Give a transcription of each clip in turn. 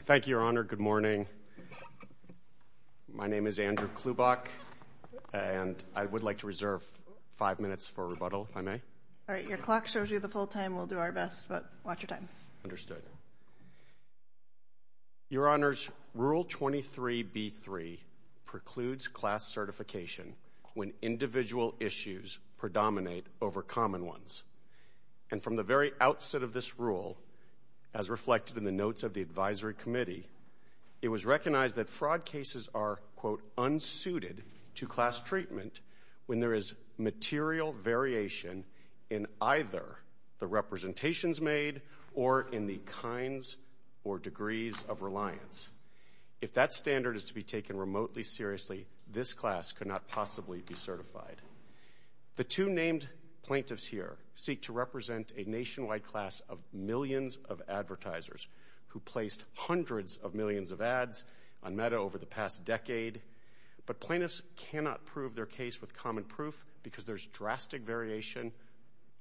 Thank you, Your Honor. Good morning. My name is Andrew Klubach, and I would like to reserve five minutes for rebuttal, if I may. All right. Your clock shows you the full time. We'll do our best, but watch your time. Understood. Your Honor's Rule 23b-3 precludes class certification when individual issues predominate over common ones. And from the very outset of this rule, as reflected in the notes of the Advisory Committee, it was recognized that fraud cases are, quote, unsuited to class treatment when there is material variation in either the representations made or in the kinds or degrees of reliance. If that standard is to be taken remotely seriously, this class could not possibly be certified. The two named plaintiffs here seek to represent a nationwide class of millions of advertisers who placed hundreds of millions of ads on Meta over the past decade. But plaintiffs cannot prove their case with common proof because there's drastic variation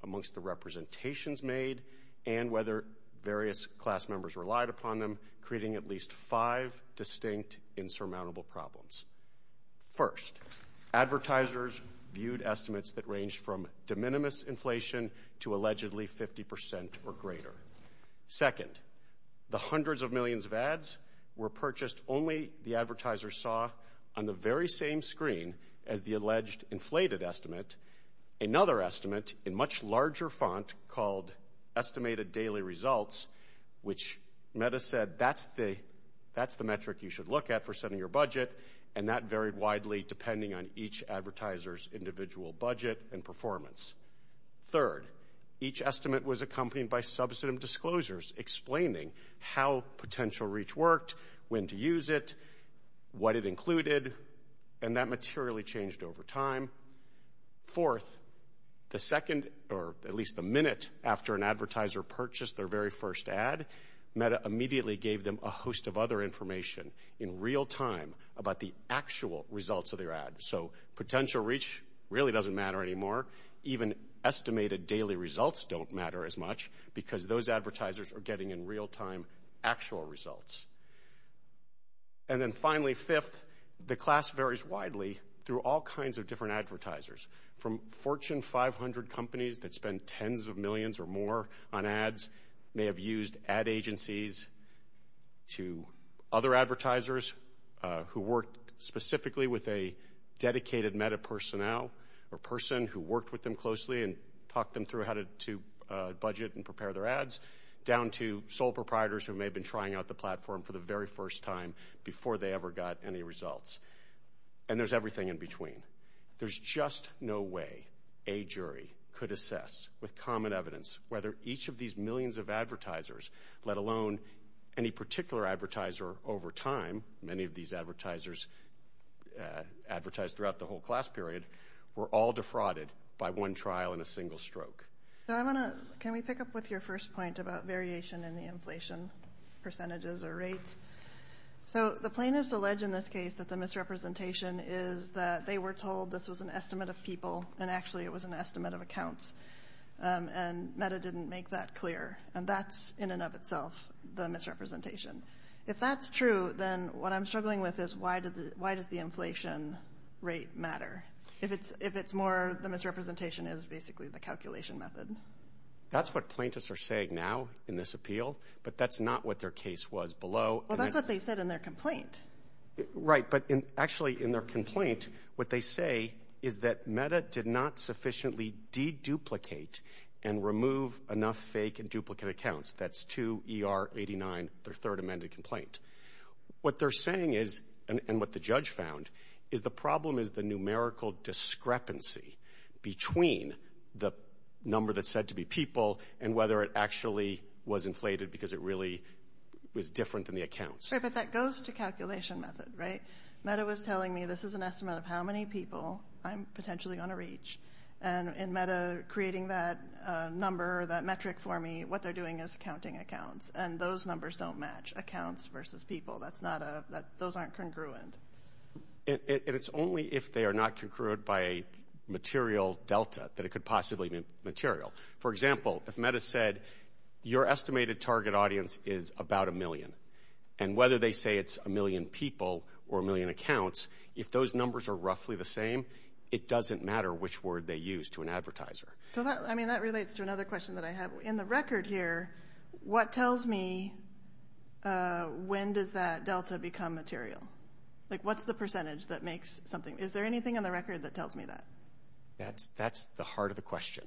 amongst the representations made and whether various class members relied upon them, creating at least five distinct insurmountable problems. First, advertisers viewed estimates that ranged from de minimis inflation to allegedly 50% or greater. Second, the hundreds of millions of ads were purchased only the advertiser saw on the very same screen as the alleged inflated estimate. Another estimate in much larger font called Estimated Daily Results, which Meta said that's the metric you should look at for setting your budget, and that varied widely depending on each advertiser's individual budget and performance. Third, each estimate was accompanied by substantive disclosures explaining how potential reach worked, when to use it, what it included, and that materially changed over time. Fourth, the second, or at least the minute after an advertiser purchased their very first ad, Meta immediately gave them a host of other information in real time about the actual results of their ad. So potential reach really doesn't matter anymore. Even Estimated Daily Results don't matter as much because those advertisers are getting in real time actual results. And then finally, fifth, the class varies widely through all kinds of different advertisers. From Fortune 500 companies that spend tens of millions or more on ads, may have used ad agencies to other advertisers who worked specifically with a dedicated Meta personnel or person who worked with them closely and talked them through how to budget and prepare their ads, down to sole proprietors who may have been trying out the platform for the very first time before they ever got any results. And there's everything in between. There's just no way a jury could assess with common evidence whether each of these millions of advertisers, let alone any particular advertiser over time, many of these advertisers advertised throughout the whole class period, were all defrauded by one trial in a single stroke. Can we pick up with your first point about variation in the inflation percentages or rates? So the plaintiffs allege in this case that the misrepresentation is that they were told this was an estimate of people, and actually it was an estimate of accounts. And Meta didn't make that clear. And that's in and of itself the misrepresentation. If that's true, then what I'm struggling with is why does the inflation rate matter? If it's more, the misrepresentation is basically the calculation method. That's what plaintiffs are saying now in this appeal, but that's not what their case was below. Well, that's what they said in their complaint. Right, but actually in their complaint, what they say is that Meta did not sufficiently deduplicate and remove enough fake and duplicate accounts. That's 2 ER 89, their third amended complaint. What they're saying is, and what the judge found, is the problem is the numerical discrepancy between the number that's said to be people and whether it actually was inflated because it really was different than the accounts. Right, but that goes to calculation method, right? Meta was telling me this is an estimate of how many people I'm potentially going to reach. And in Meta creating that number, that metric for me, what they're doing is counting accounts. And those numbers don't congruent. And it's only if they are not congruent by a material delta that it could possibly be material. For example, if Meta said your estimated target audience is about a million and whether they say it's a million people or a million accounts, if those numbers are roughly the same, it doesn't matter which word they use to an advertiser. So that, I mean, that relates to another question that I have. In the record here, what tells me when does that delta become material? Like what's the percentage that makes something? Is there anything in the record that tells me that? That's the heart of the question.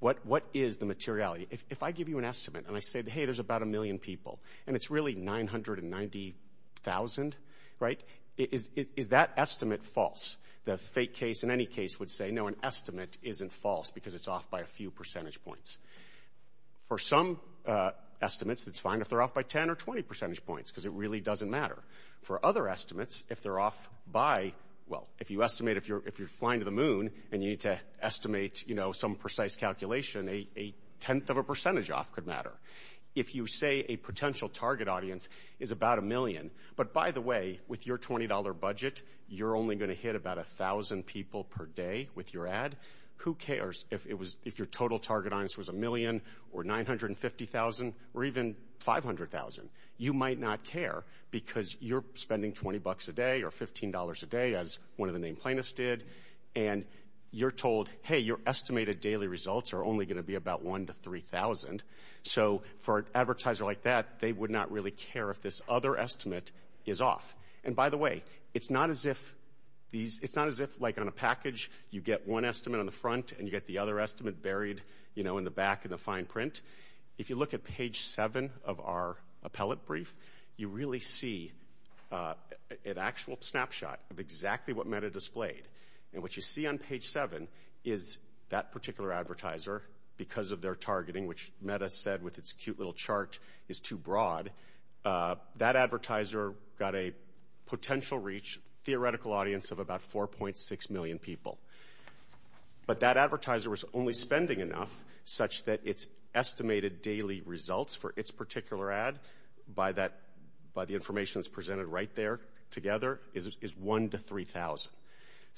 What is the materiality? If I give you an estimate and I say, hey, there's about a million people and it's really 990,000, right, is that estimate false? The fake case in any case would say, no, an estimate isn't false because it's off by a few percentage points. For some estimates, it's fine if they're off by 10 or 20 percentage points because it really doesn't matter. For other estimates, if they're off by, well, if you estimate if you're flying to the moon and you need to estimate some precise calculation, a tenth of a percentage off could matter. If you say a potential target audience is about a million, but by the way, with your $20 budget, you're only going to hit about a thousand people per day with your ad, who cares if your total target audience was a million or 950,000 or even 500,000. You might not care because you're spending $20 a day or $15 a day as one of the named plaintiffs did and you're told, hey, your estimated daily results are only going to be about one to three thousand. So for an advertiser like that, they would not really care if this other estimate is off. And by the way, it's not as if these, it's not as if like on a package you get one estimate on the front and you get the other estimate buried, you know, in the back in the pellet brief, you really see an actual snapshot of exactly what Meta displayed. And what you see on page seven is that particular advertiser, because of their targeting, which Meta said with its cute little chart is too broad, that advertiser got a potential reach, theoretical audience of about 4.6 million people. But that advertiser was only spending enough such that its estimated daily results for its particular ad by that, by the information that's presented right there together, is one to three thousand.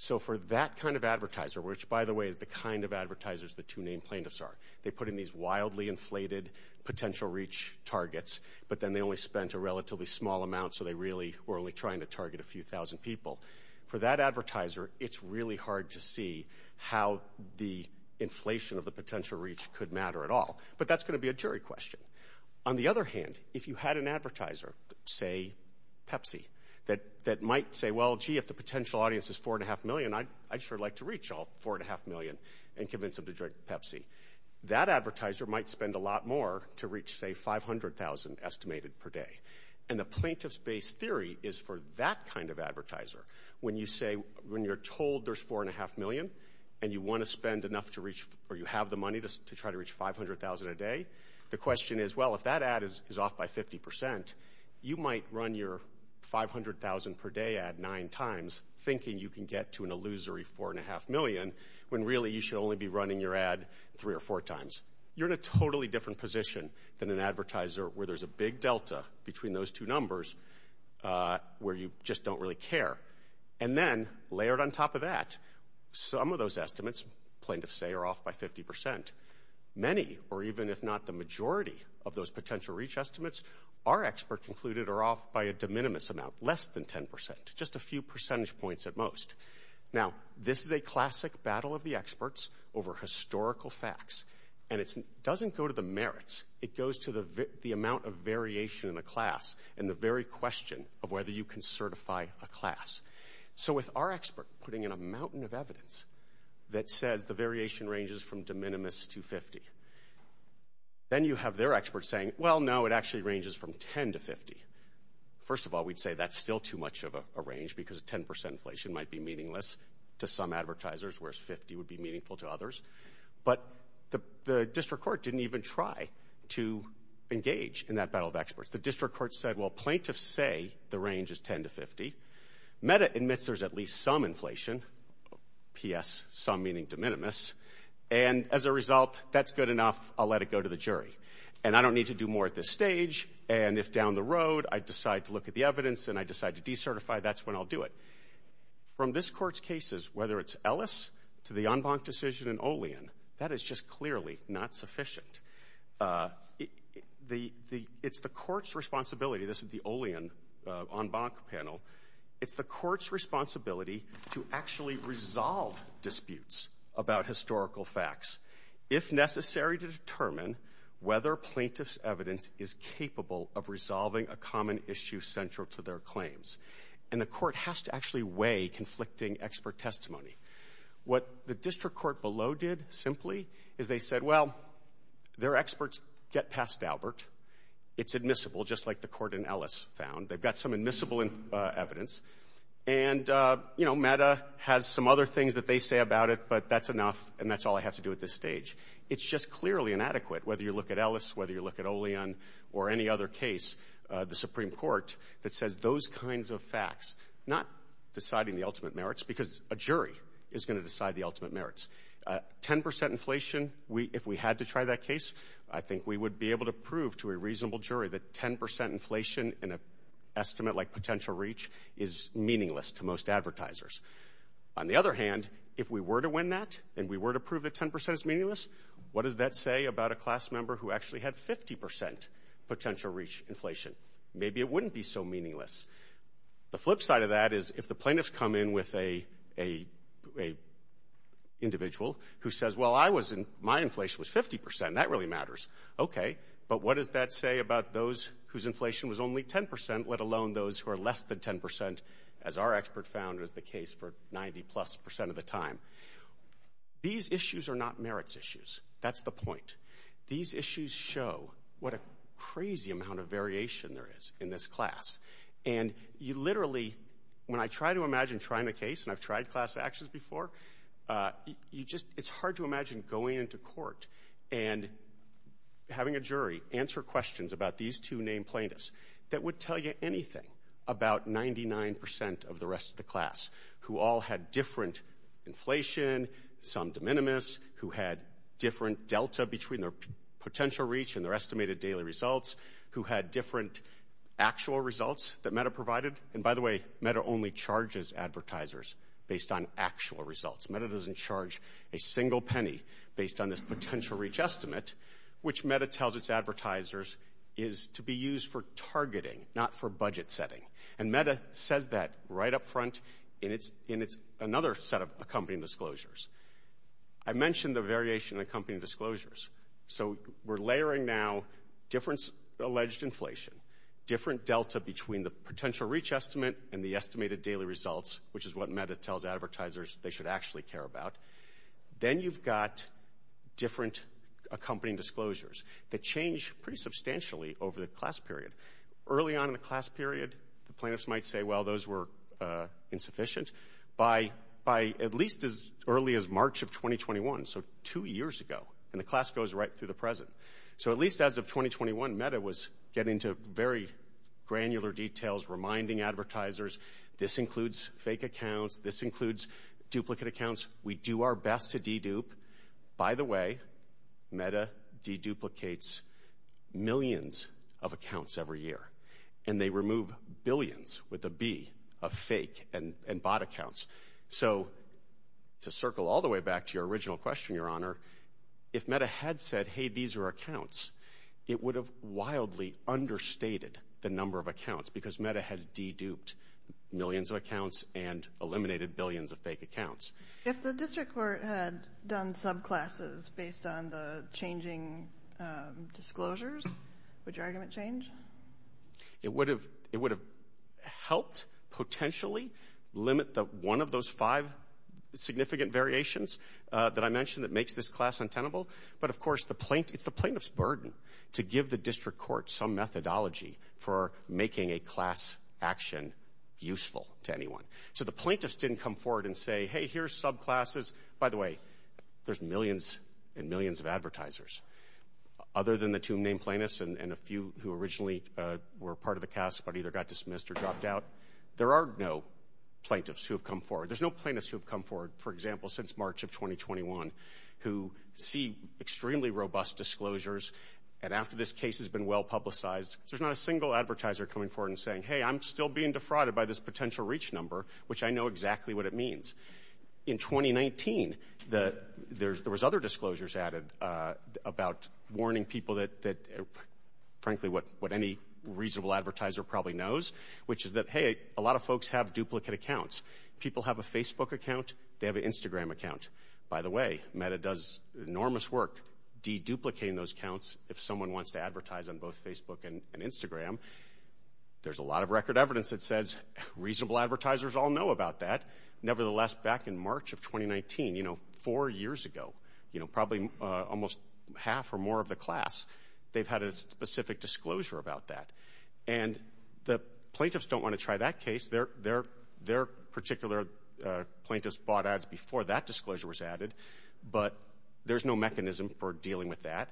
So for that kind of advertiser, which by the way is the kind of advertisers the two named plaintiffs are, they put in these wildly inflated potential reach targets, but then they only spent a relatively small amount so they really were only trying to target a few thousand people. For that advertiser, it's really hard to see how the inflation of the But that's going to be a jury question. On the other hand, if you had an advertiser, say Pepsi, that that might say, well, gee, if the potential audience is four and a half million, I'd sure like to reach all four and a half million and convince them to drink Pepsi. That advertiser might spend a lot more to reach say five hundred thousand estimated per day. And the plaintiff's base theory is for that kind of advertiser. When you say, when you're told there's four and a half million and you want to spend enough to reach, or you have the money to try to reach five hundred thousand a day, the question is, well, if that ad is off by 50 percent, you might run your five hundred thousand per day ad nine times thinking you can get to an illusory four and a half million when really you should only be running your ad three or four times. You're in a totally different position than an advertiser where there's a big delta between those two numbers, where you just don't really care. And then layered on top of that, some of those estimates, plaintiffs say, are off by 50 percent. Many, or even if not the majority of those potential reach estimates, our expert concluded are off by a de minimis amount, less than 10 percent, just a few percentage points at most. Now, this is a classic battle of the experts over historical facts. And it doesn't go to the merits, it goes to the the amount of variation in the class and the very question of whether you can certify a class. So with our expert putting in a mountain of evidence that says the variation ranges from de minimis to 50, then you have their experts saying, well, no, it actually ranges from 10 to 50. First of all, we'd say that's still too much of a range because a 10 percent inflation might be meaningless to some advertisers, whereas 50 would be meaningful to others. But the district court didn't even try to engage in that battle of experts. The district court said, well, plaintiffs say the range is 10 to 50. Meta admits there's at least some inflation, P.S., some meaning de minimis. And as a result, that's good enough. I'll let it go to the jury. And I don't need to do more at this stage. And if down the road I decide to look at the evidence and I decide to decertify, that's when I'll do it. From this court's cases, whether it's Ellis to the Enbanc decision in Olean, that is just clearly not sufficient. It's the court's responsibility, this is the Olean Enbanc panel, it's the court's responsibility to actually resolve disputes about historical facts if necessary to determine whether plaintiff's evidence is capable of resolving a common issue central to their claims. And the court has to actually weigh conflicting expert testimony. What the district court below did, simply, is they said, well, their experts get past Albert. It's admissible, just like the meta has some other things that they say about it, but that's enough and that's all I have to do at this stage. It's just clearly inadequate, whether you look at Ellis, whether you look at Olean, or any other case, the Supreme Court that says those kinds of facts, not deciding the ultimate merits, because a jury is going to decide the ultimate merits. 10% inflation, if we had to try that case, I think we would be able to prove to a reasonable jury that 10% inflation in an instance is meaningless to most advertisers. On the other hand, if we were to win that, and we were to prove that 10% is meaningless, what does that say about a class member who actually had 50% potential reach inflation? Maybe it wouldn't be so meaningless. The flip side of that is, if the plaintiffs come in with a individual who says, well, my inflation was 50%, that really matters. Okay, but what does that say about those whose inflation was only 10%, let alone those who are less than 10%, as our expert found was the case for 90 plus percent of the time? These issues are not merits issues. That's the point. These issues show what a crazy amount of variation there is in this class. And you literally, when I try to imagine trying the case, and I've tried class actions before, you just, it's hard to imagine going into court and having a jury answer questions about these two named plaintiffs that would tell you anything about 99% of the rest of the class, who all had different inflation, some de minimis, who had different delta between their potential reach and their estimated daily results, who had different actual results that Meta provided. And by the way, Meta only charges advertisers based on actual results. Meta doesn't charge a single penny based on this potential reach estimate, which Meta tells its advertisers is to be used for targeting, not for budget setting. And Meta says that right up front, and it's another set of accompanying disclosures. I mentioned the variation in accompanying disclosures. So we're layering now different alleged inflation, different delta between the potential reach estimate and the estimated daily results, which is what Meta tells advertisers they should actually care about. Then you've got different accompanying disclosures that change pretty substantially over the class period. Early on in the class period, the plaintiffs might say, well, those were insufficient. By at least as early as March of 2021, so two years ago, and the class goes right through the present. So at least as of 2021, Meta was getting into very granular details, reminding advertisers, this includes fake accounts, this includes duplicate accounts. We do our best to dedupe. By the way, Meta deduplicates millions of accounts every year, and they remove billions with a B of fake and bought accounts. So to circle all the way back to your original question, Your Honor, if Meta had said, hey, these are accounts, it would have wildly understated the number of accounts because Meta has deduped millions of accounts and If the district court had done subclasses based on the changing disclosures, would your argument change? It would have helped potentially limit one of those five significant variations that I mentioned that makes this class untenable. But of course, it's the plaintiff's burden to give the district court some methodology for making a class action useful to anyone. So the By the way, there's millions and millions of advertisers, other than the two main plaintiffs and a few who originally were part of the cast, but either got dismissed or dropped out. There are no plaintiffs who have come forward. There's no plaintiffs who have come forward, for example, since March of 2021, who see extremely robust disclosures. And after this case has been well publicized, there's not a single advertiser coming forward and saying, hey, I'm still being defrauded by this potential reach number, which I know exactly what it means. In 2019, there was other disclosures added about warning people that, frankly, what any reasonable advertiser probably knows, which is that, hey, a lot of folks have duplicate accounts. People have a Facebook account. They have an Instagram account. By the way, Meta does enormous work deduplicating those counts. If someone wants to advertise on both Facebook and Instagram, there's a lot of record evidence that says reasonable advertisers all know about that. Nevertheless, back in March of 2019, four years ago, probably almost half or more of the class, they've had a specific disclosure about that. And the plaintiffs don't want to try that case. Their particular plaintiffs bought ads before that disclosure was added, but there's no mechanism for dealing with that.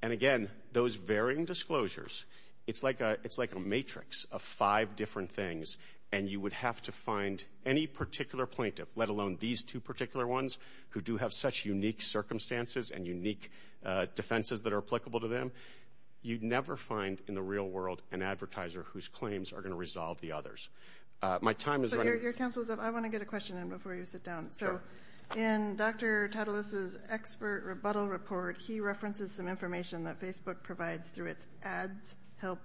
And again, those varying disclosures, it's like a matrix of five different things, and you would have to find any particular plaintiff, let alone these two particular ones, who do have such unique circumstances and unique defenses that are applicable to them. You'd never find in the real world an advertiser whose claims are going to resolve the others. My time is running- So your counsel, I want to get a question in before you sit down. Sure. So in Dr. Tatalos' expert rebuttal report, he references some help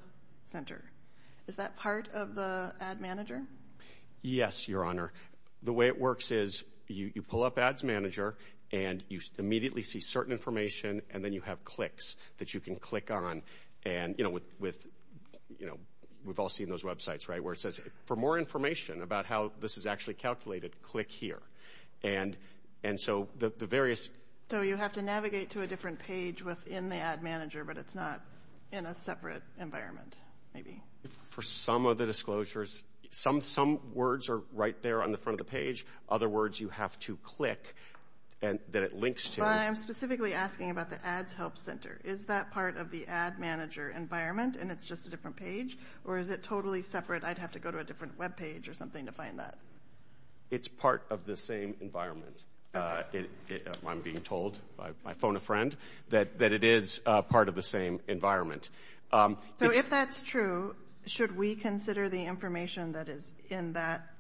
center. Is that part of the ad manager? Yes, Your Honor. The way it works is you pull up ads manager, and you immediately see certain information, and then you have clicks that you can click on. We've all seen those websites, right? Where it says, for more information about how this is actually calculated, click here. And so the various- So you have to navigate to a different environment, maybe. For some of the disclosures, some words are right there on the front of the page. Other words, you have to click that it links to. But I'm specifically asking about the ads help center. Is that part of the ad manager environment, and it's just a different page? Or is it totally separate? I'd have to go to a different webpage or something to find that. It's part of the same environment. I'm being told by my phone a friend that it is part of the same environment. So if that's true, should we consider the information that is in that-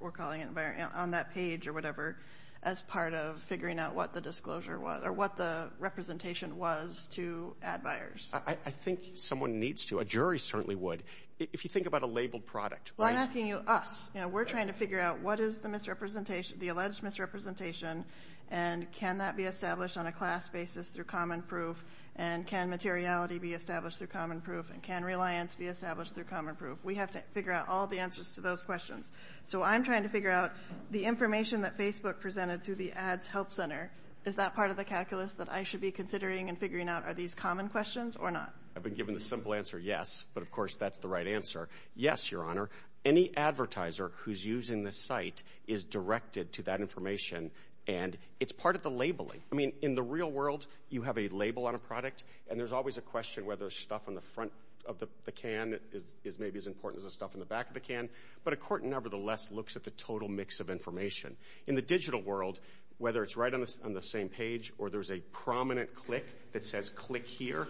we're calling it environment- on that page or whatever as part of figuring out what the disclosure was, or what the representation was to ad buyers? I think someone needs to. A jury certainly would. If you think about a labeled product- Well, I'm asking you us. We're trying to figure out what is the alleged misrepresentation, and can that be established on a class basis through common proof? And can materiality be established through common proof? And can reliance be established through common proof? We have to figure out all the answers to those questions. So I'm trying to figure out the information that Facebook presented through the ads help center. Is that part of the calculus that I should be considering and figuring out? Are these common questions or not? I've been given the simple answer, yes. But of course, that's the right answer. Yes, your honor. Any advertiser who's using the site is directed to and it's part of the labeling. I mean, in the real world, you have a label on a product, and there's always a question whether stuff on the front of the can is maybe as important as the stuff in the back of the can. But a court, nevertheless, looks at the total mix of information. In the digital world, whether it's right on the same page or there's a prominent click that says click here,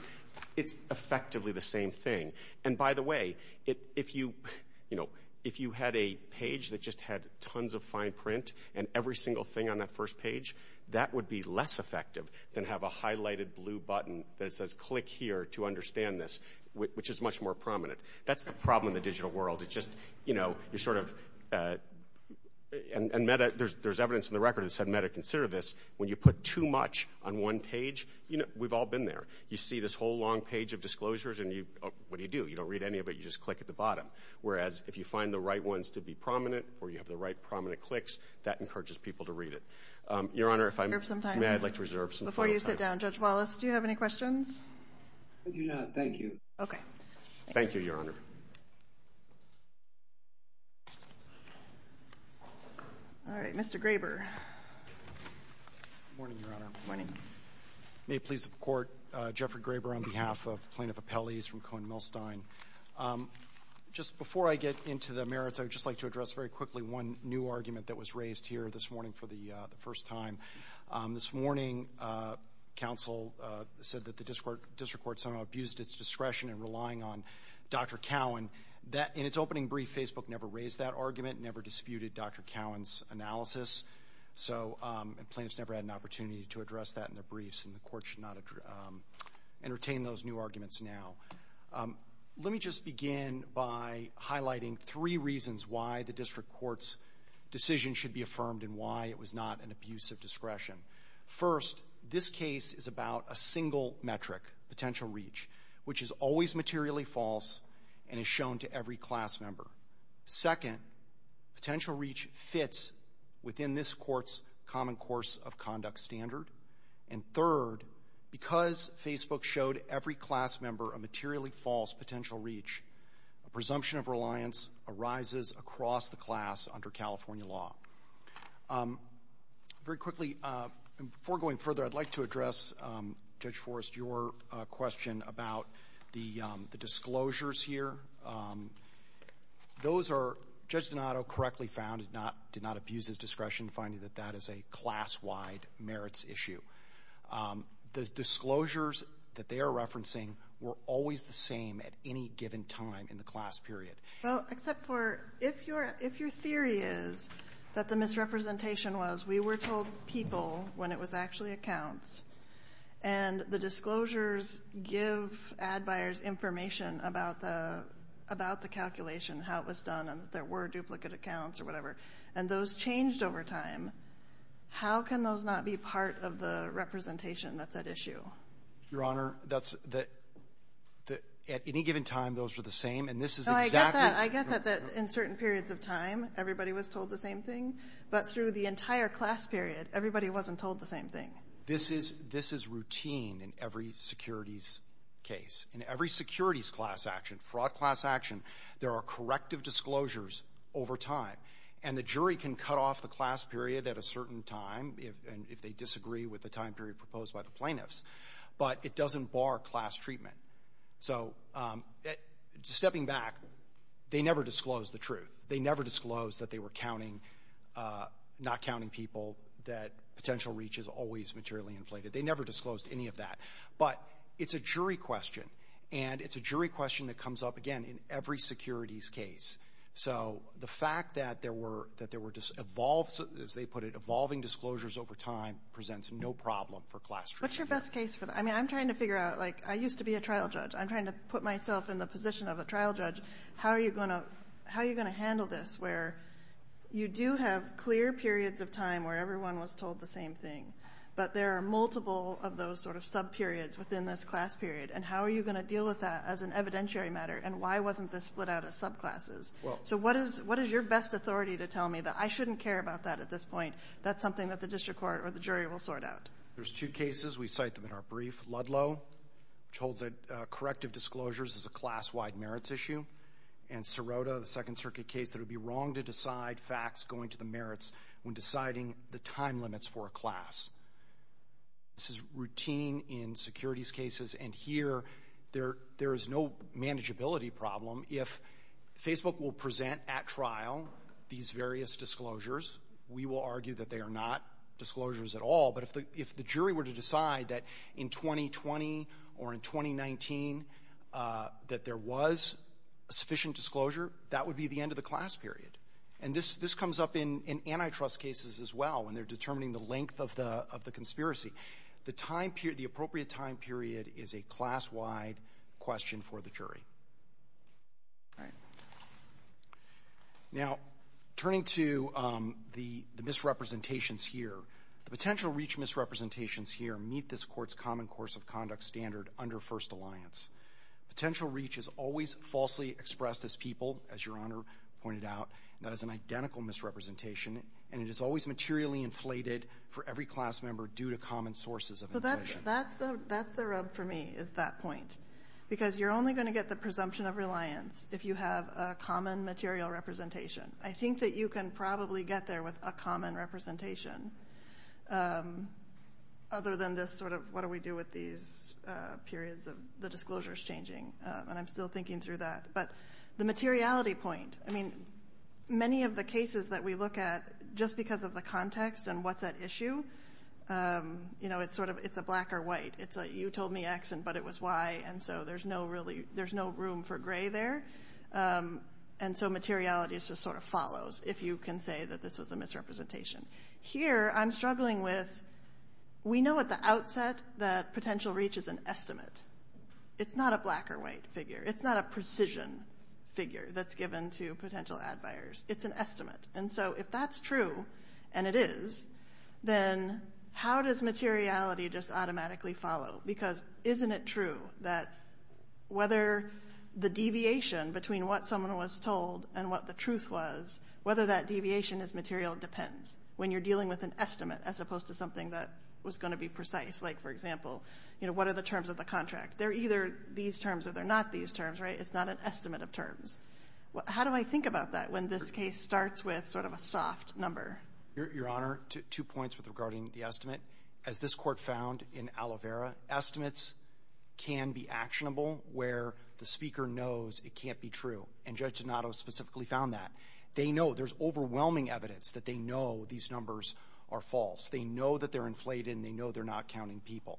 it's effectively the same thing. And by the way, if you had a page that just had tons of fine print and every single thing on that first page, that would be less effective than have a highlighted blue button that says click here to understand this, which is much more prominent. That's the problem in the digital world. It's just, you know, you're sort of and meta, there's evidence in the record that said meta consider this. When you put too much on one page, you know, we've all been there. You see this whole long page of disclosures and you, what do you do? You don't read any of it. You just click at the bottom. Whereas if you find the right ones to be prominent or you have the right prominent clicks, that encourages people to read it. Your Honor, if I may, I'd like to reserve some time. Before you sit down, Judge Wallace, do you have any questions? I do not. Thank you. Okay. Thank you, Your Honor. All right. Mr. Graber. Good morning, Your Honor. Good morning. May it please the Court, Jeffrey Graber on behalf of Plaintiff Appellees from Cohen Millstein. Just before I get into the merits, I would just like to address very quickly one new argument that was raised here this morning for the first time. This morning, counsel said that the District Court somehow abused its discretion in relying on Dr. Cowan. In its opening brief, Facebook never raised that argument, never disputed Dr. Cowan's analysis. So plaintiffs never had an opportunity to address that in their briefs and the Court should not entertain those new arguments now. Let me just begin by highlighting three reasons why the District Court's decision should be affirmed and why it was not an abuse of discretion. First, this case is about a single metric, potential reach, which is always materially false and is shown to every class member. Second, potential reach fits within this Court's common course of conduct standard. And third, because Facebook showed every class member a materially false potential reach, a presumption of reliance arises across the class under California law. Very quickly, before going further, I'd like to address, Judge Forrest, your question about the disclosures here. Those are, Judge Donato correctly found, did not abuse his discretion finding that that is a class-wide merits issue. The disclosures that they are referencing were always the same at any given time in the class period. Well, except for if your, if your theory is that the misrepresentation was we were told people when it was actually accounts and the disclosures give ad buyers information about the, about the calculation, how it was and that there were duplicate accounts or whatever, and those changed over time. How can those not be part of the representation that's at issue? Your Honor, that's the, at any given time, those are the same. And this is exactly No, I get that. I get that in certain periods of time, everybody was told the same thing. But through the entire class period, everybody wasn't told the same thing. This is, this is routine in every securities case. In every securities class action, fraud class action, there are corrective disclosures over time. And the jury can cut off the class period at a certain time if, and if they disagree with the time period proposed by the plaintiffs. But it doesn't bar class treatment. So stepping back, they never disclosed the truth. They never disclosed that they were counting, not counting people, that potential reach is always materially inflated. They never disclosed any of that. But it's a jury question. And it's a jury question that comes up, again, in every securities case. So the fact that there were, that there were dis, evolved, as they put it, evolving disclosures over time presents no problem for class treatment. What's your best case for that? I mean, I'm trying to figure out, like, I used to be a trial judge. I'm trying to put myself in the position of a trial judge. How are you going to, how are you going to handle this where you do have clear periods of time where everyone was told the same thing, but there are multiple of those sort of subperiods within this class period? And how are you going to deal with that as an evidentiary matter? And why wasn't this split out of subclasses? Well — So what is, what is your best authority to tell me that I shouldn't care about that at this point? That's something that the district court or the jury will sort out. There's two cases. We cite them in our brief. Ludlow, which holds that corrective disclosures is a class-wide merits issue, and Sirota, the Second Circuit case, that it would be wrong to decide facts going to the merits when deciding the time limits for a class. This is routine in securities cases, and here, there is no manageability problem. If Facebook will present at trial these various disclosures, we will argue that they are not disclosures at all. But if the jury were to decide that in 2020 or in 2019 that there was sufficient disclosure, that would be the end of the class period. And this comes up in antitrust cases as well, when they're determining the length of the conspiracy. The time period, the appropriate time period, is a class-wide question for the jury. All right. Now, turning to the misrepresentations here, the potential reach misrepresentations here meet this Court's common course of conduct standard under First Alliance. Potential reach is always falsely expressed as people, as Your Honor pointed out, and that is an identical misrepresentation, and it is always materially inflated for every class member due to common sources of inflation. So that's the rub for me, is that point, because you're only going to get the presumption of reliance if you have a common material representation. I think that you can probably get there with a common representation, other than this sort of, what do we do with these periods of the disclosures changing? And I'm still thinking through that. But the materiality point, I mean, many of the cases that we look at, just because of the context and what's at issue, you know, it's sort of, it's a black or white. It's like, you told me X, but it was Y, and so there's no room for gray there. And so materiality just sort of follows, if you can say that this was a misrepresentation. Here, I'm struggling with, we know at the outset that potential reach is an estimate. It's not a black or white figure. It's not a precision figure that's given to potential ad buyers. It's an estimate. And so if that's true, and it is, then how does materiality just automatically follow? Because isn't it true that whether the deviation between what someone was told and what the truth was, whether that was something that was going to be precise? Like, for example, you know, what are the terms of the contract? They're either these terms or they're not these terms, right? It's not an estimate of terms. How do I think about that when this case starts with sort of a soft number? Your Honor, two points regarding the estimate. As this court found in Aloe Vera, estimates can be actionable where the speaker knows it can't be true. And Judge Donato specifically found that. They know, there's know that they're inflated and they know they're not counting people.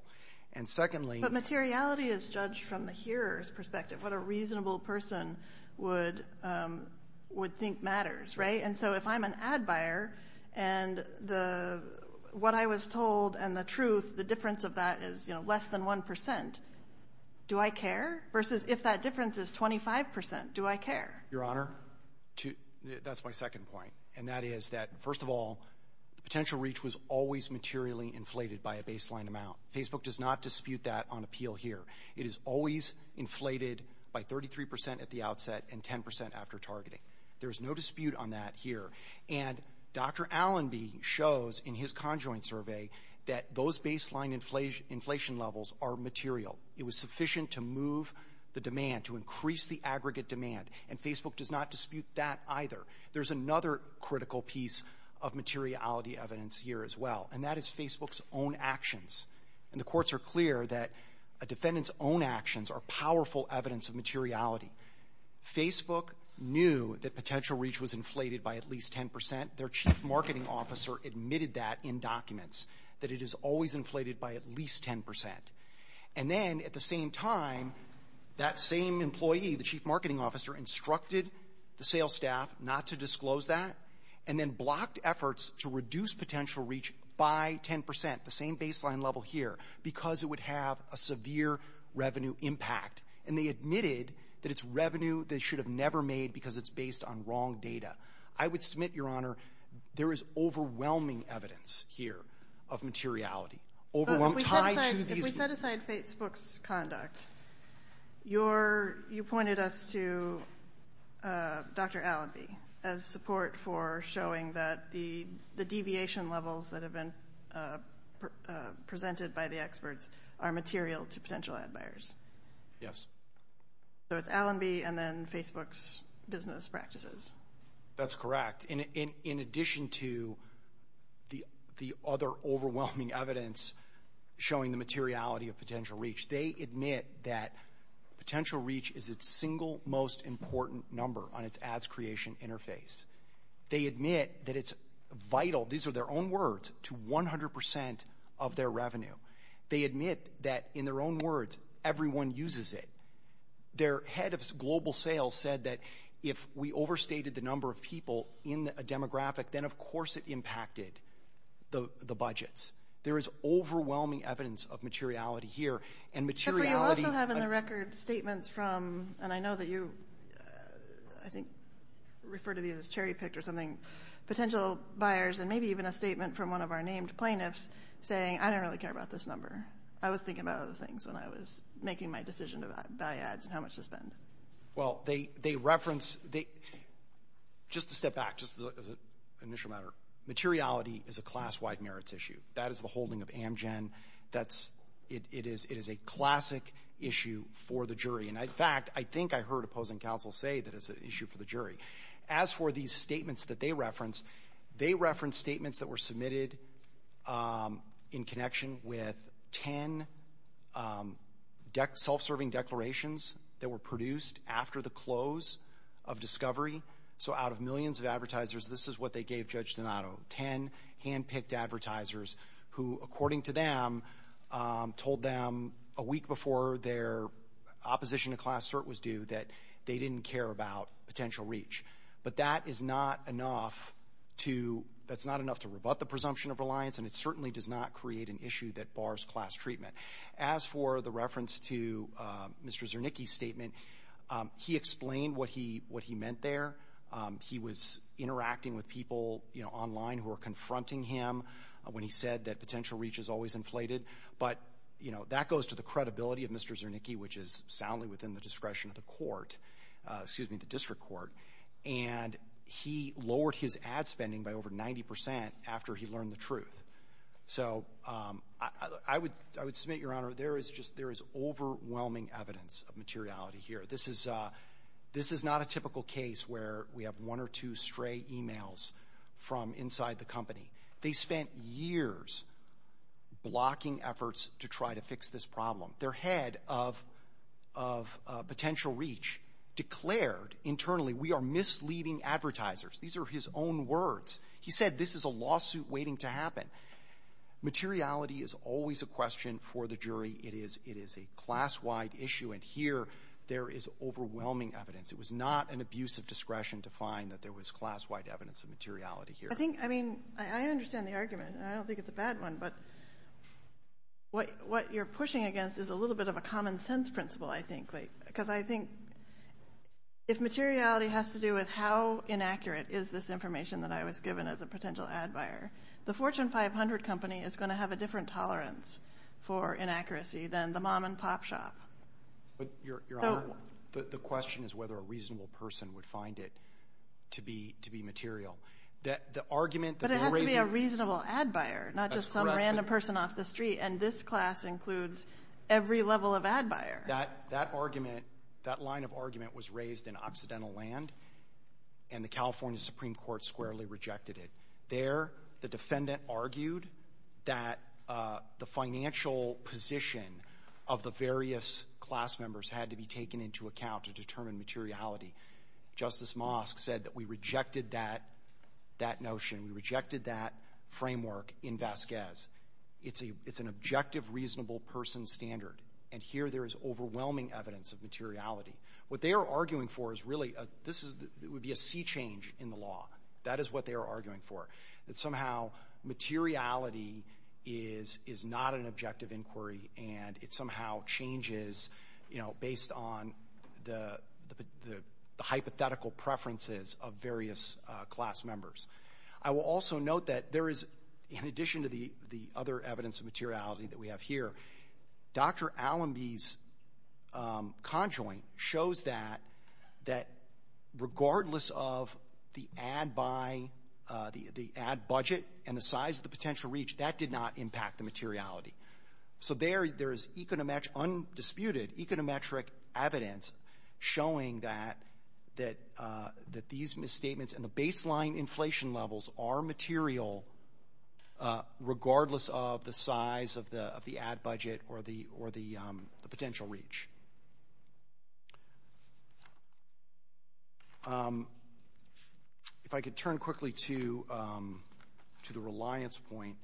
And secondly, But materiality is judged from the hearer's perspective. What a reasonable person would think matters, right? And so if I'm an ad buyer and what I was told and the truth, the difference of that is, you know, less than 1%, do I care? Versus if that difference is 25%, do I care? Your Honor, that's my second point. And that is that, first of all, potential reach was always materially inflated by a baseline amount. Facebook does not dispute that on appeal here. It is always inflated by 33% at the outset and 10% after targeting. There's no dispute on that here. And Dr. Allenby shows in his conjoint survey that those baseline inflation levels are material. It was sufficient to move the demand, to increase the aggregate demand. And Facebook does not dispute that either. There's another critical piece of materiality evidence here as well. And that is Facebook's own actions. And the courts are clear that a defendant's own actions are powerful evidence of materiality. Facebook knew that potential reach was inflated by at least 10%. Their chief marketing officer admitted that in documents, that it is always inflated by at least 10%. And then at the same time, that same employee, the chief marketing officer, instructed the sales staff not to disclose that, and then blocked efforts to reduce potential reach by 10%, the same baseline level here, because it would have a severe revenue impact. And they admitted that it's revenue they should have never made because it's based on wrong data. I would submit, Your Honor, there is overwhelming evidence here of materiality. Overwhelming. If we set aside Facebook's conduct, you pointed us to Dr. Allenby as support for showing that the deviation levels that have been presented by the experts are material to potential ad buyers. Yes. So it's Allenby and then Facebook's business practices. That's correct. And in addition to the other overwhelming evidence showing the materiality of potential reach, they admit that potential reach is its single most important number on its ads creation interface. They admit that it's vital, these are their own words, to 100% of their revenue. They admit that, in their own words, everyone uses it. Their head of global sales said that if we overstated the number of people in a demographic, then of course it impacted the budgets. There is overwhelming evidence of materiality here. And materiality... But we also have in the record statements from, and I know that you, I think, refer to these as cherry picked or something, potential buyers and maybe even a statement from one of our named plaintiffs saying, I don't really care about this number. I was thinking about other things when I was making my decision about buy ads and how much to spend. Well, they reference... Just to step back, just as an initial matter, materiality is a class-wide merits issue. That is the holding of Amgen. It is a classic issue for the jury. And in fact, I think I heard opposing counsel say that it's an issue for the jury. As for these statements that they reference, they reference statements that were submitted in connection with 10 self-serving declarations that were produced after the close of discovery. So out of millions of advertisers, this is what they gave Judge Donato, 10 hand-picked advertisers who, according to them, told them a week before their opposition to class cert was due that they didn't care about potential reach. But that is not enough to... And it certainly does not create an issue that bars class treatment. As for the reference to Mr. Zernicki's statement, he explained what he meant there. He was interacting with people online who were confronting him when he said that potential reach is always inflated. But that goes to the credibility of Mr. Zernicki, which is soundly within the discretion of the court, excuse me, the district court. And he lowered his ad spending by over 90 percent after he learned the truth. So I would — I would submit, Your Honor, there is just — there is overwhelming evidence of materiality here. This is — this is not a typical case where we have one or two stray e-mails from inside the company. They spent years blocking efforts to try to fix this problem. Their head of — of potential reach declared internally, we are misleading advertisers. These are his own words. He said this is a lawsuit waiting to happen. Materiality is always a question for the jury. It is — it is a class-wide issue. And here, there is overwhelming evidence. It was not an abuse of discretion to find that there was class-wide evidence of materiality here. I think — I mean, I understand the argument. I don't think it's a bad one. But what — what you're pushing against is a little bit of a common-sense principle, I think, because I think if materiality has to do with how inaccurate is this information that I was given as a potential ad buyer, the Fortune 500 company is going to have a different tolerance for inaccuracy than the mom-and-pop shop. But, Your Honor, the question is whether a reasonable person would find it to be — to be material. The argument that the raising — But it has to be a reasonable ad buyer, not just someone —— random person off the street. And this class includes every level of ad buyer. That argument — that line of argument was raised in Occidental Land, and the California Supreme Court squarely rejected it. There, the defendant argued that the financial position of the various class members had to be taken into account to determine materiality. Justice Mosk said that we rejected that — that notion. We rejected that framework in Vasquez. It's an objective, reasonable person standard. And here there is overwhelming evidence of materiality. What they are arguing for is really — this is — it would be a sea change in the law. That is what they are arguing for, that somehow materiality is — is not an objective inquiry, and it somehow changes, you know, based on the hypothetical preferences of various class members. I will also note that there is, in addition to the — the other evidence of materiality that we have here, Dr. Allenby's conjoint shows that — that regardless of the ad buy — the ad budget and the size of the potential reach, that did not impact the materiality. So there is econometric — undisputed econometric evidence showing that — that these misstatements and the baseline inflation levels are material regardless of the size of the — of the ad budget or the — or the potential reach. If I could turn quickly to — to the reliance point.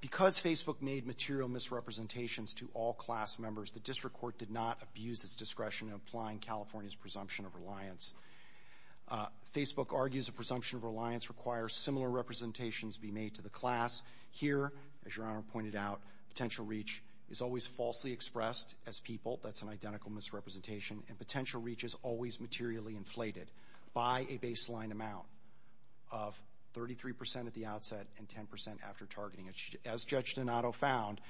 Because Facebook made material misrepresentations to all class members, the district court did not abuse its discretion in applying California's presumption of reliance. Facebook argues a presumption of reliance requires similar representations be made to the class. Here, as Your Honor pointed out, potential reach is always falsely expressed as people. That's an identical misrepresentation. And potential reach is always materially inflated by a baseline amount of 33 percent at the outset and 10 percent after targeting. As Judge Donato found,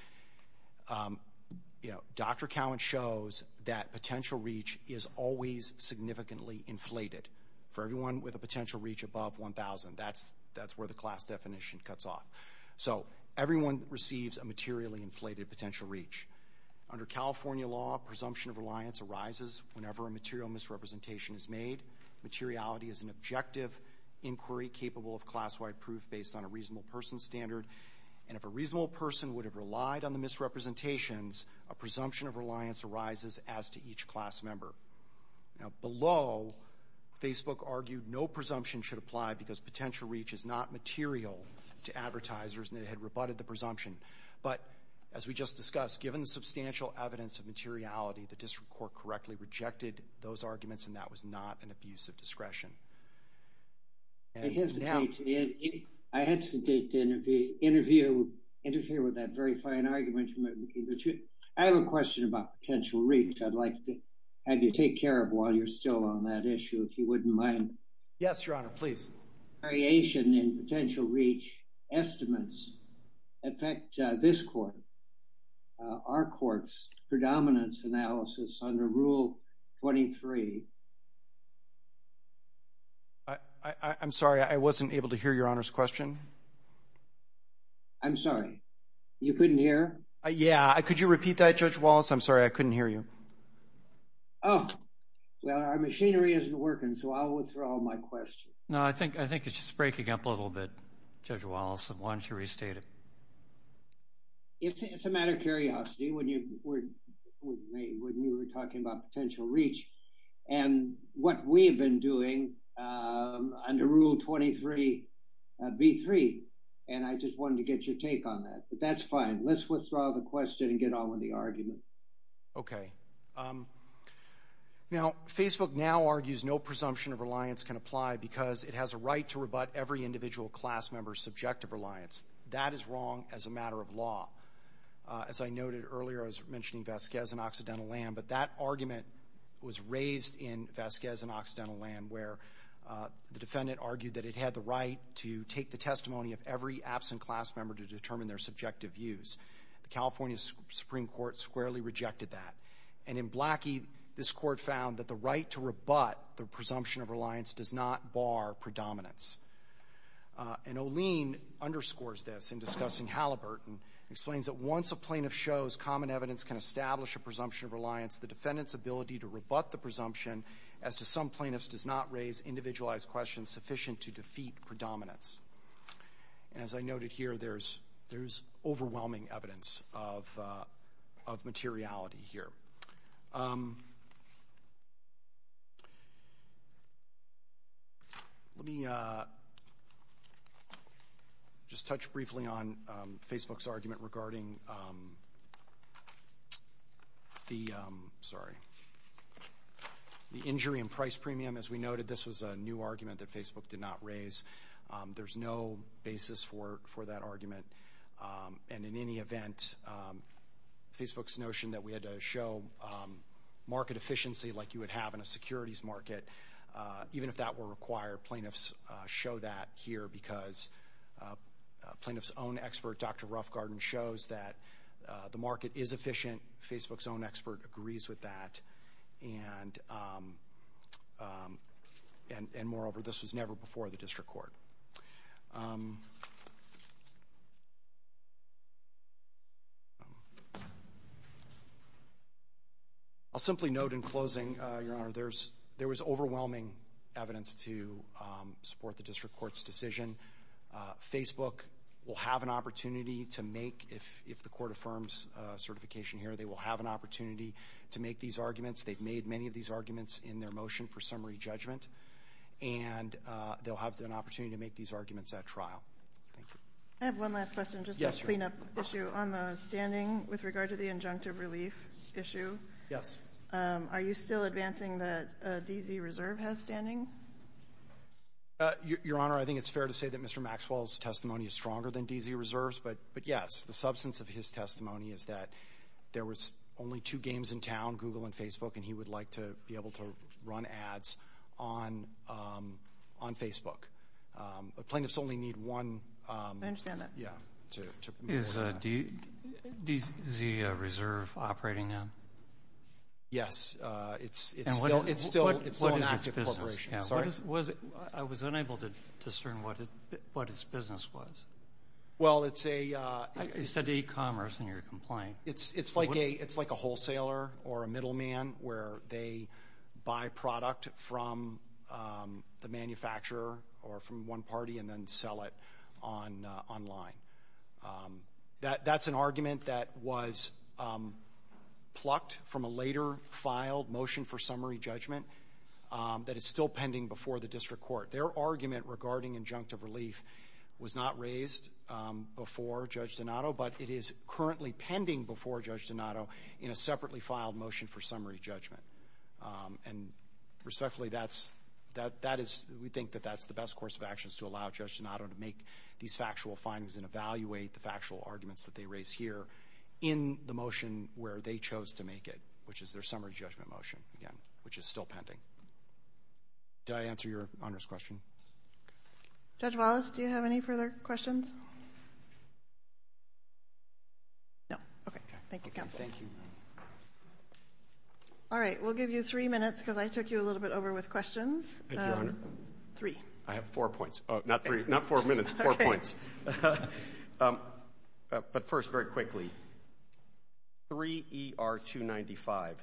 you know, Dr. Cowen shows that potential reach is always significantly inflated. For everyone with a potential reach above 1,000, that's — that's where the class definition cuts off. So everyone receives a materially inflated potential reach. Under California law, presumption of reliance arises whenever a material misrepresentation is made. Materiality is an objective inquiry capable of class-wide proof based on a reasonable person's standard. And if a reasonable person would have relied on the misrepresentations, a presumption of reliance arises as to each class member. Now, below, Facebook argued no presumption should apply because potential reach is not material to advertisers, and it had rebutted the presumption. But as we just discussed, given the substantial evidence of materiality, the district court correctly rejected those arguments, and that was not an abuse of discretion. And now — I hesitate to — I hesitate to interview — interfere with that very fine argument. I have a question about potential reach. I'd like to have you take care of it while you're still on that issue, if you wouldn't mind. Yes, Your Honor, please. Variation in potential reach estimates affect this court, our court's predominance analysis under Rule 23. I'm sorry, I wasn't able to hear Your Honor's question. I'm sorry. You couldn't hear? Yeah. Could you repeat that, Judge Wallace? I'm sorry. I couldn't hear you. Oh. Well, our machinery isn't working, so I'll withdraw my question. No, I think — I think it's just breaking up a little bit, Judge Wallace, and why don't you restate it? It's a matter of curiosity when you were — when you were talking about potential reach and what we have been doing under Rule 23B3, and I just wanted to get your take on that. But that's fine. Let's withdraw the question and get on with the argument. Okay. Now, Facebook now argues no presumption of reliance can apply because it has a right to rebut every individual class member's subjective reliance. That is wrong as a matter of law. As I noted earlier, I was mentioning Vasquez and Occidental Lamb, but that argument was where the defendant argued that it had the right to take the testimony of every absent class member to determine their subjective views. The California Supreme Court squarely rejected that. And in Blackie, this court found that the right to rebut the presumption of reliance does not bar predominance. And Olien underscores this in discussing Halliburton, explains that once a plaintiff shows common evidence can establish a presumption of reliance, the defendant's ability to rebut the presumption as to some plaintiffs does not raise individualized questions sufficient to defeat predominance. And as I noted here, there's overwhelming evidence of materiality here. Let me just touch briefly on Facebook's argument regarding the, sorry, the argument regarding injury and price premium. As we noted, this was a new argument that Facebook did not raise. There's no basis for that argument. And in any event, Facebook's notion that we had to show market efficiency like you would have in a securities market, even if that were required, plaintiffs show that here because a plaintiff's own expert, Dr. Roughgarden, shows that the market is efficient. Facebook's own expert agrees with that, and moreover, this was never before the District Court. I'll simply note in closing, Your Honor, there was overwhelming evidence to support the District Court's decision. Facebook will have an opportunity to make, if the Court affirms certification here, they will have an opportunity to make these arguments. They've made many of these arguments in their motion for summary judgment, and they'll have an opportunity to make these arguments at trial. Thank you. I have one last question just to clean up issue on the standing with regard to the injunctive relief issue. Yes. Are you still advancing the DZ Reserve has standing? Your Honor, I think it's fair to say that Mr. Maxwell's testimony is stronger than DZ Reserve's, but yes, the substance of his testimony is that there was only two games in town, Google and Facebook, and he would like to be able to run ads on Facebook. Plaintiffs only need one. I understand that. Yeah. Is DZ Reserve operating now? Yes. It's still an active corporation. I'm sorry? I was unable to discern what his business was. Well, it's a... You said e-commerce in your complaint. It's like a wholesaler or a middleman where they buy product from the manufacturer or from one party and then sell it online. That's an argument that was plucked from a later filed motion for summary judgment that is still pending before the district court. Their argument regarding injunctive relief was not raised before Judge Donato, but it is currently pending before Judge Donato in a separately filed motion for summary judgment. And respectfully, we think that that's the best course of actions to allow Judge Donato to make these factual findings and evaluate the factual arguments that they raise here in the motion where they chose to make it, which is their summary judgment motion, again, which is still pending. Did I answer Your Honor's question? Judge Wallace, do you have any further questions? No. No. Okay. Thank you, Counsel. Thank you. All right. We'll give you three minutes because I took you a little bit over with questions. Thank you, Your Honor. Three. I have four points. Not three. Not four minutes. Four points. Okay. But first, very quickly, 3ER295,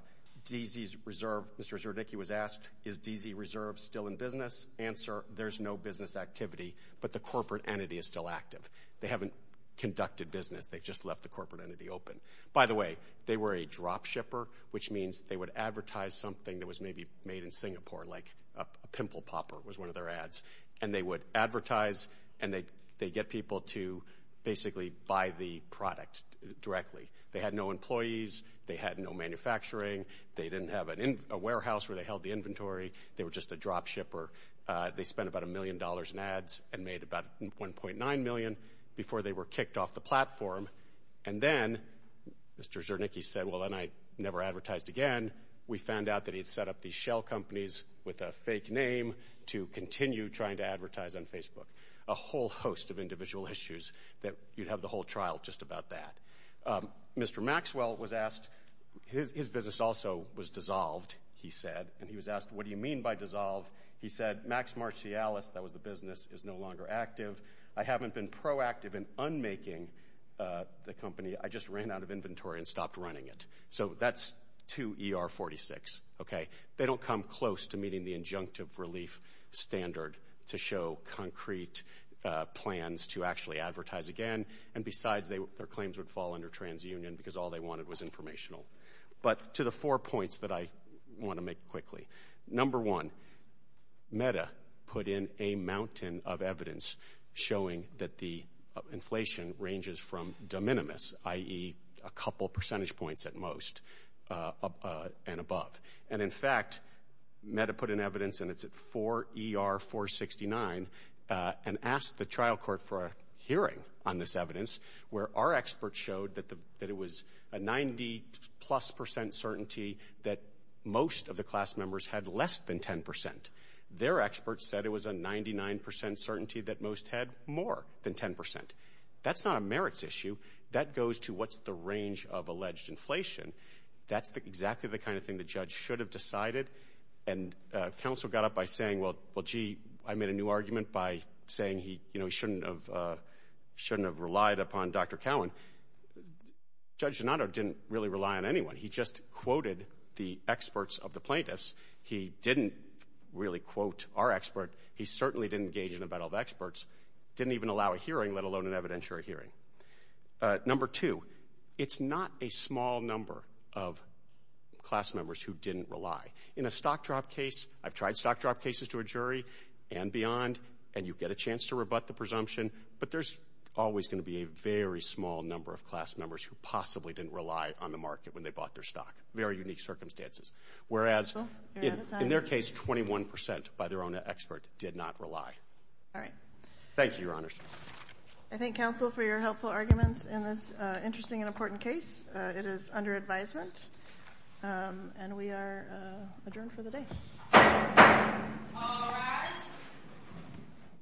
DZ Reserve, Mr. Zerdiki was asked, is DZ Reserve still in business? Answer, there's no business activity, but the corporate entity is still active. They haven't conducted business. They've just left the corporate entity open. By the way, they were a drop shipper, which means they would advertise something that was maybe made in Singapore, like a pimple popper was one of their ads, and they would buy the product directly. They had no employees. They had no manufacturing. They didn't have a warehouse where they held the inventory. They were just a drop shipper. They spent about $1 million in ads and made about $1.9 million before they were kicked off the platform. And then Mr. Zerdiki said, well, then I never advertised again. We found out that he had set up these shell companies with a fake name to continue trying to advertise on Facebook. A whole host of individual issues that you'd have the whole trial just about that. Mr. Maxwell was asked, his business also was dissolved, he said. And he was asked, what do you mean by dissolve? He said, Max Marcialis, that was the business, is no longer active. I haven't been proactive in unmaking the company. I just ran out of inventory and stopped running it. So that's 2 ER 46, okay? They don't come close to meeting the injunctive relief standard to show concrete plans to actually advertise again. And besides, their claims would fall under TransUnion because all they wanted was informational. But to the four points that I want to make quickly, number one, Meta put in a mountain of evidence showing that the inflation ranges from de minimis, i.e. a couple percentage points at most and above. And, in fact, Meta put in evidence, and it's at 4 ER 469, and asked the trial court for a hearing on this evidence where our experts showed that it was a 90-plus percent certainty that most of the class members had less than 10%. Their experts said it was a 99% certainty that most had more than 10%. That's not a merits issue. That goes to what's the range of alleged inflation. That's exactly the kind of thing the judge should have decided, and counsel got up by saying, well, gee, I made a new argument by saying he shouldn't have relied upon Dr. Cowen. Judge Donato didn't really rely on anyone. He just quoted the experts of the plaintiffs. He didn't really quote our expert. He certainly didn't engage in a battle of experts, didn't even allow a hearing, let alone an evidentiary hearing. Number two, it's not a small number of class members who didn't rely. In a stock drop case, I've tried stock drop cases to a jury and beyond, and you get a chance to rebut the presumption, but there's always going to be a very small number of class members who possibly didn't rely on the market when they bought their stock. Very unique circumstances. Whereas, in their case, 21% by their own expert did not rely. Thank you, Your Honors. I thank counsel for your helpful arguments in this interesting and important case. It is under advisement, and we are adjourned for the day. All rise.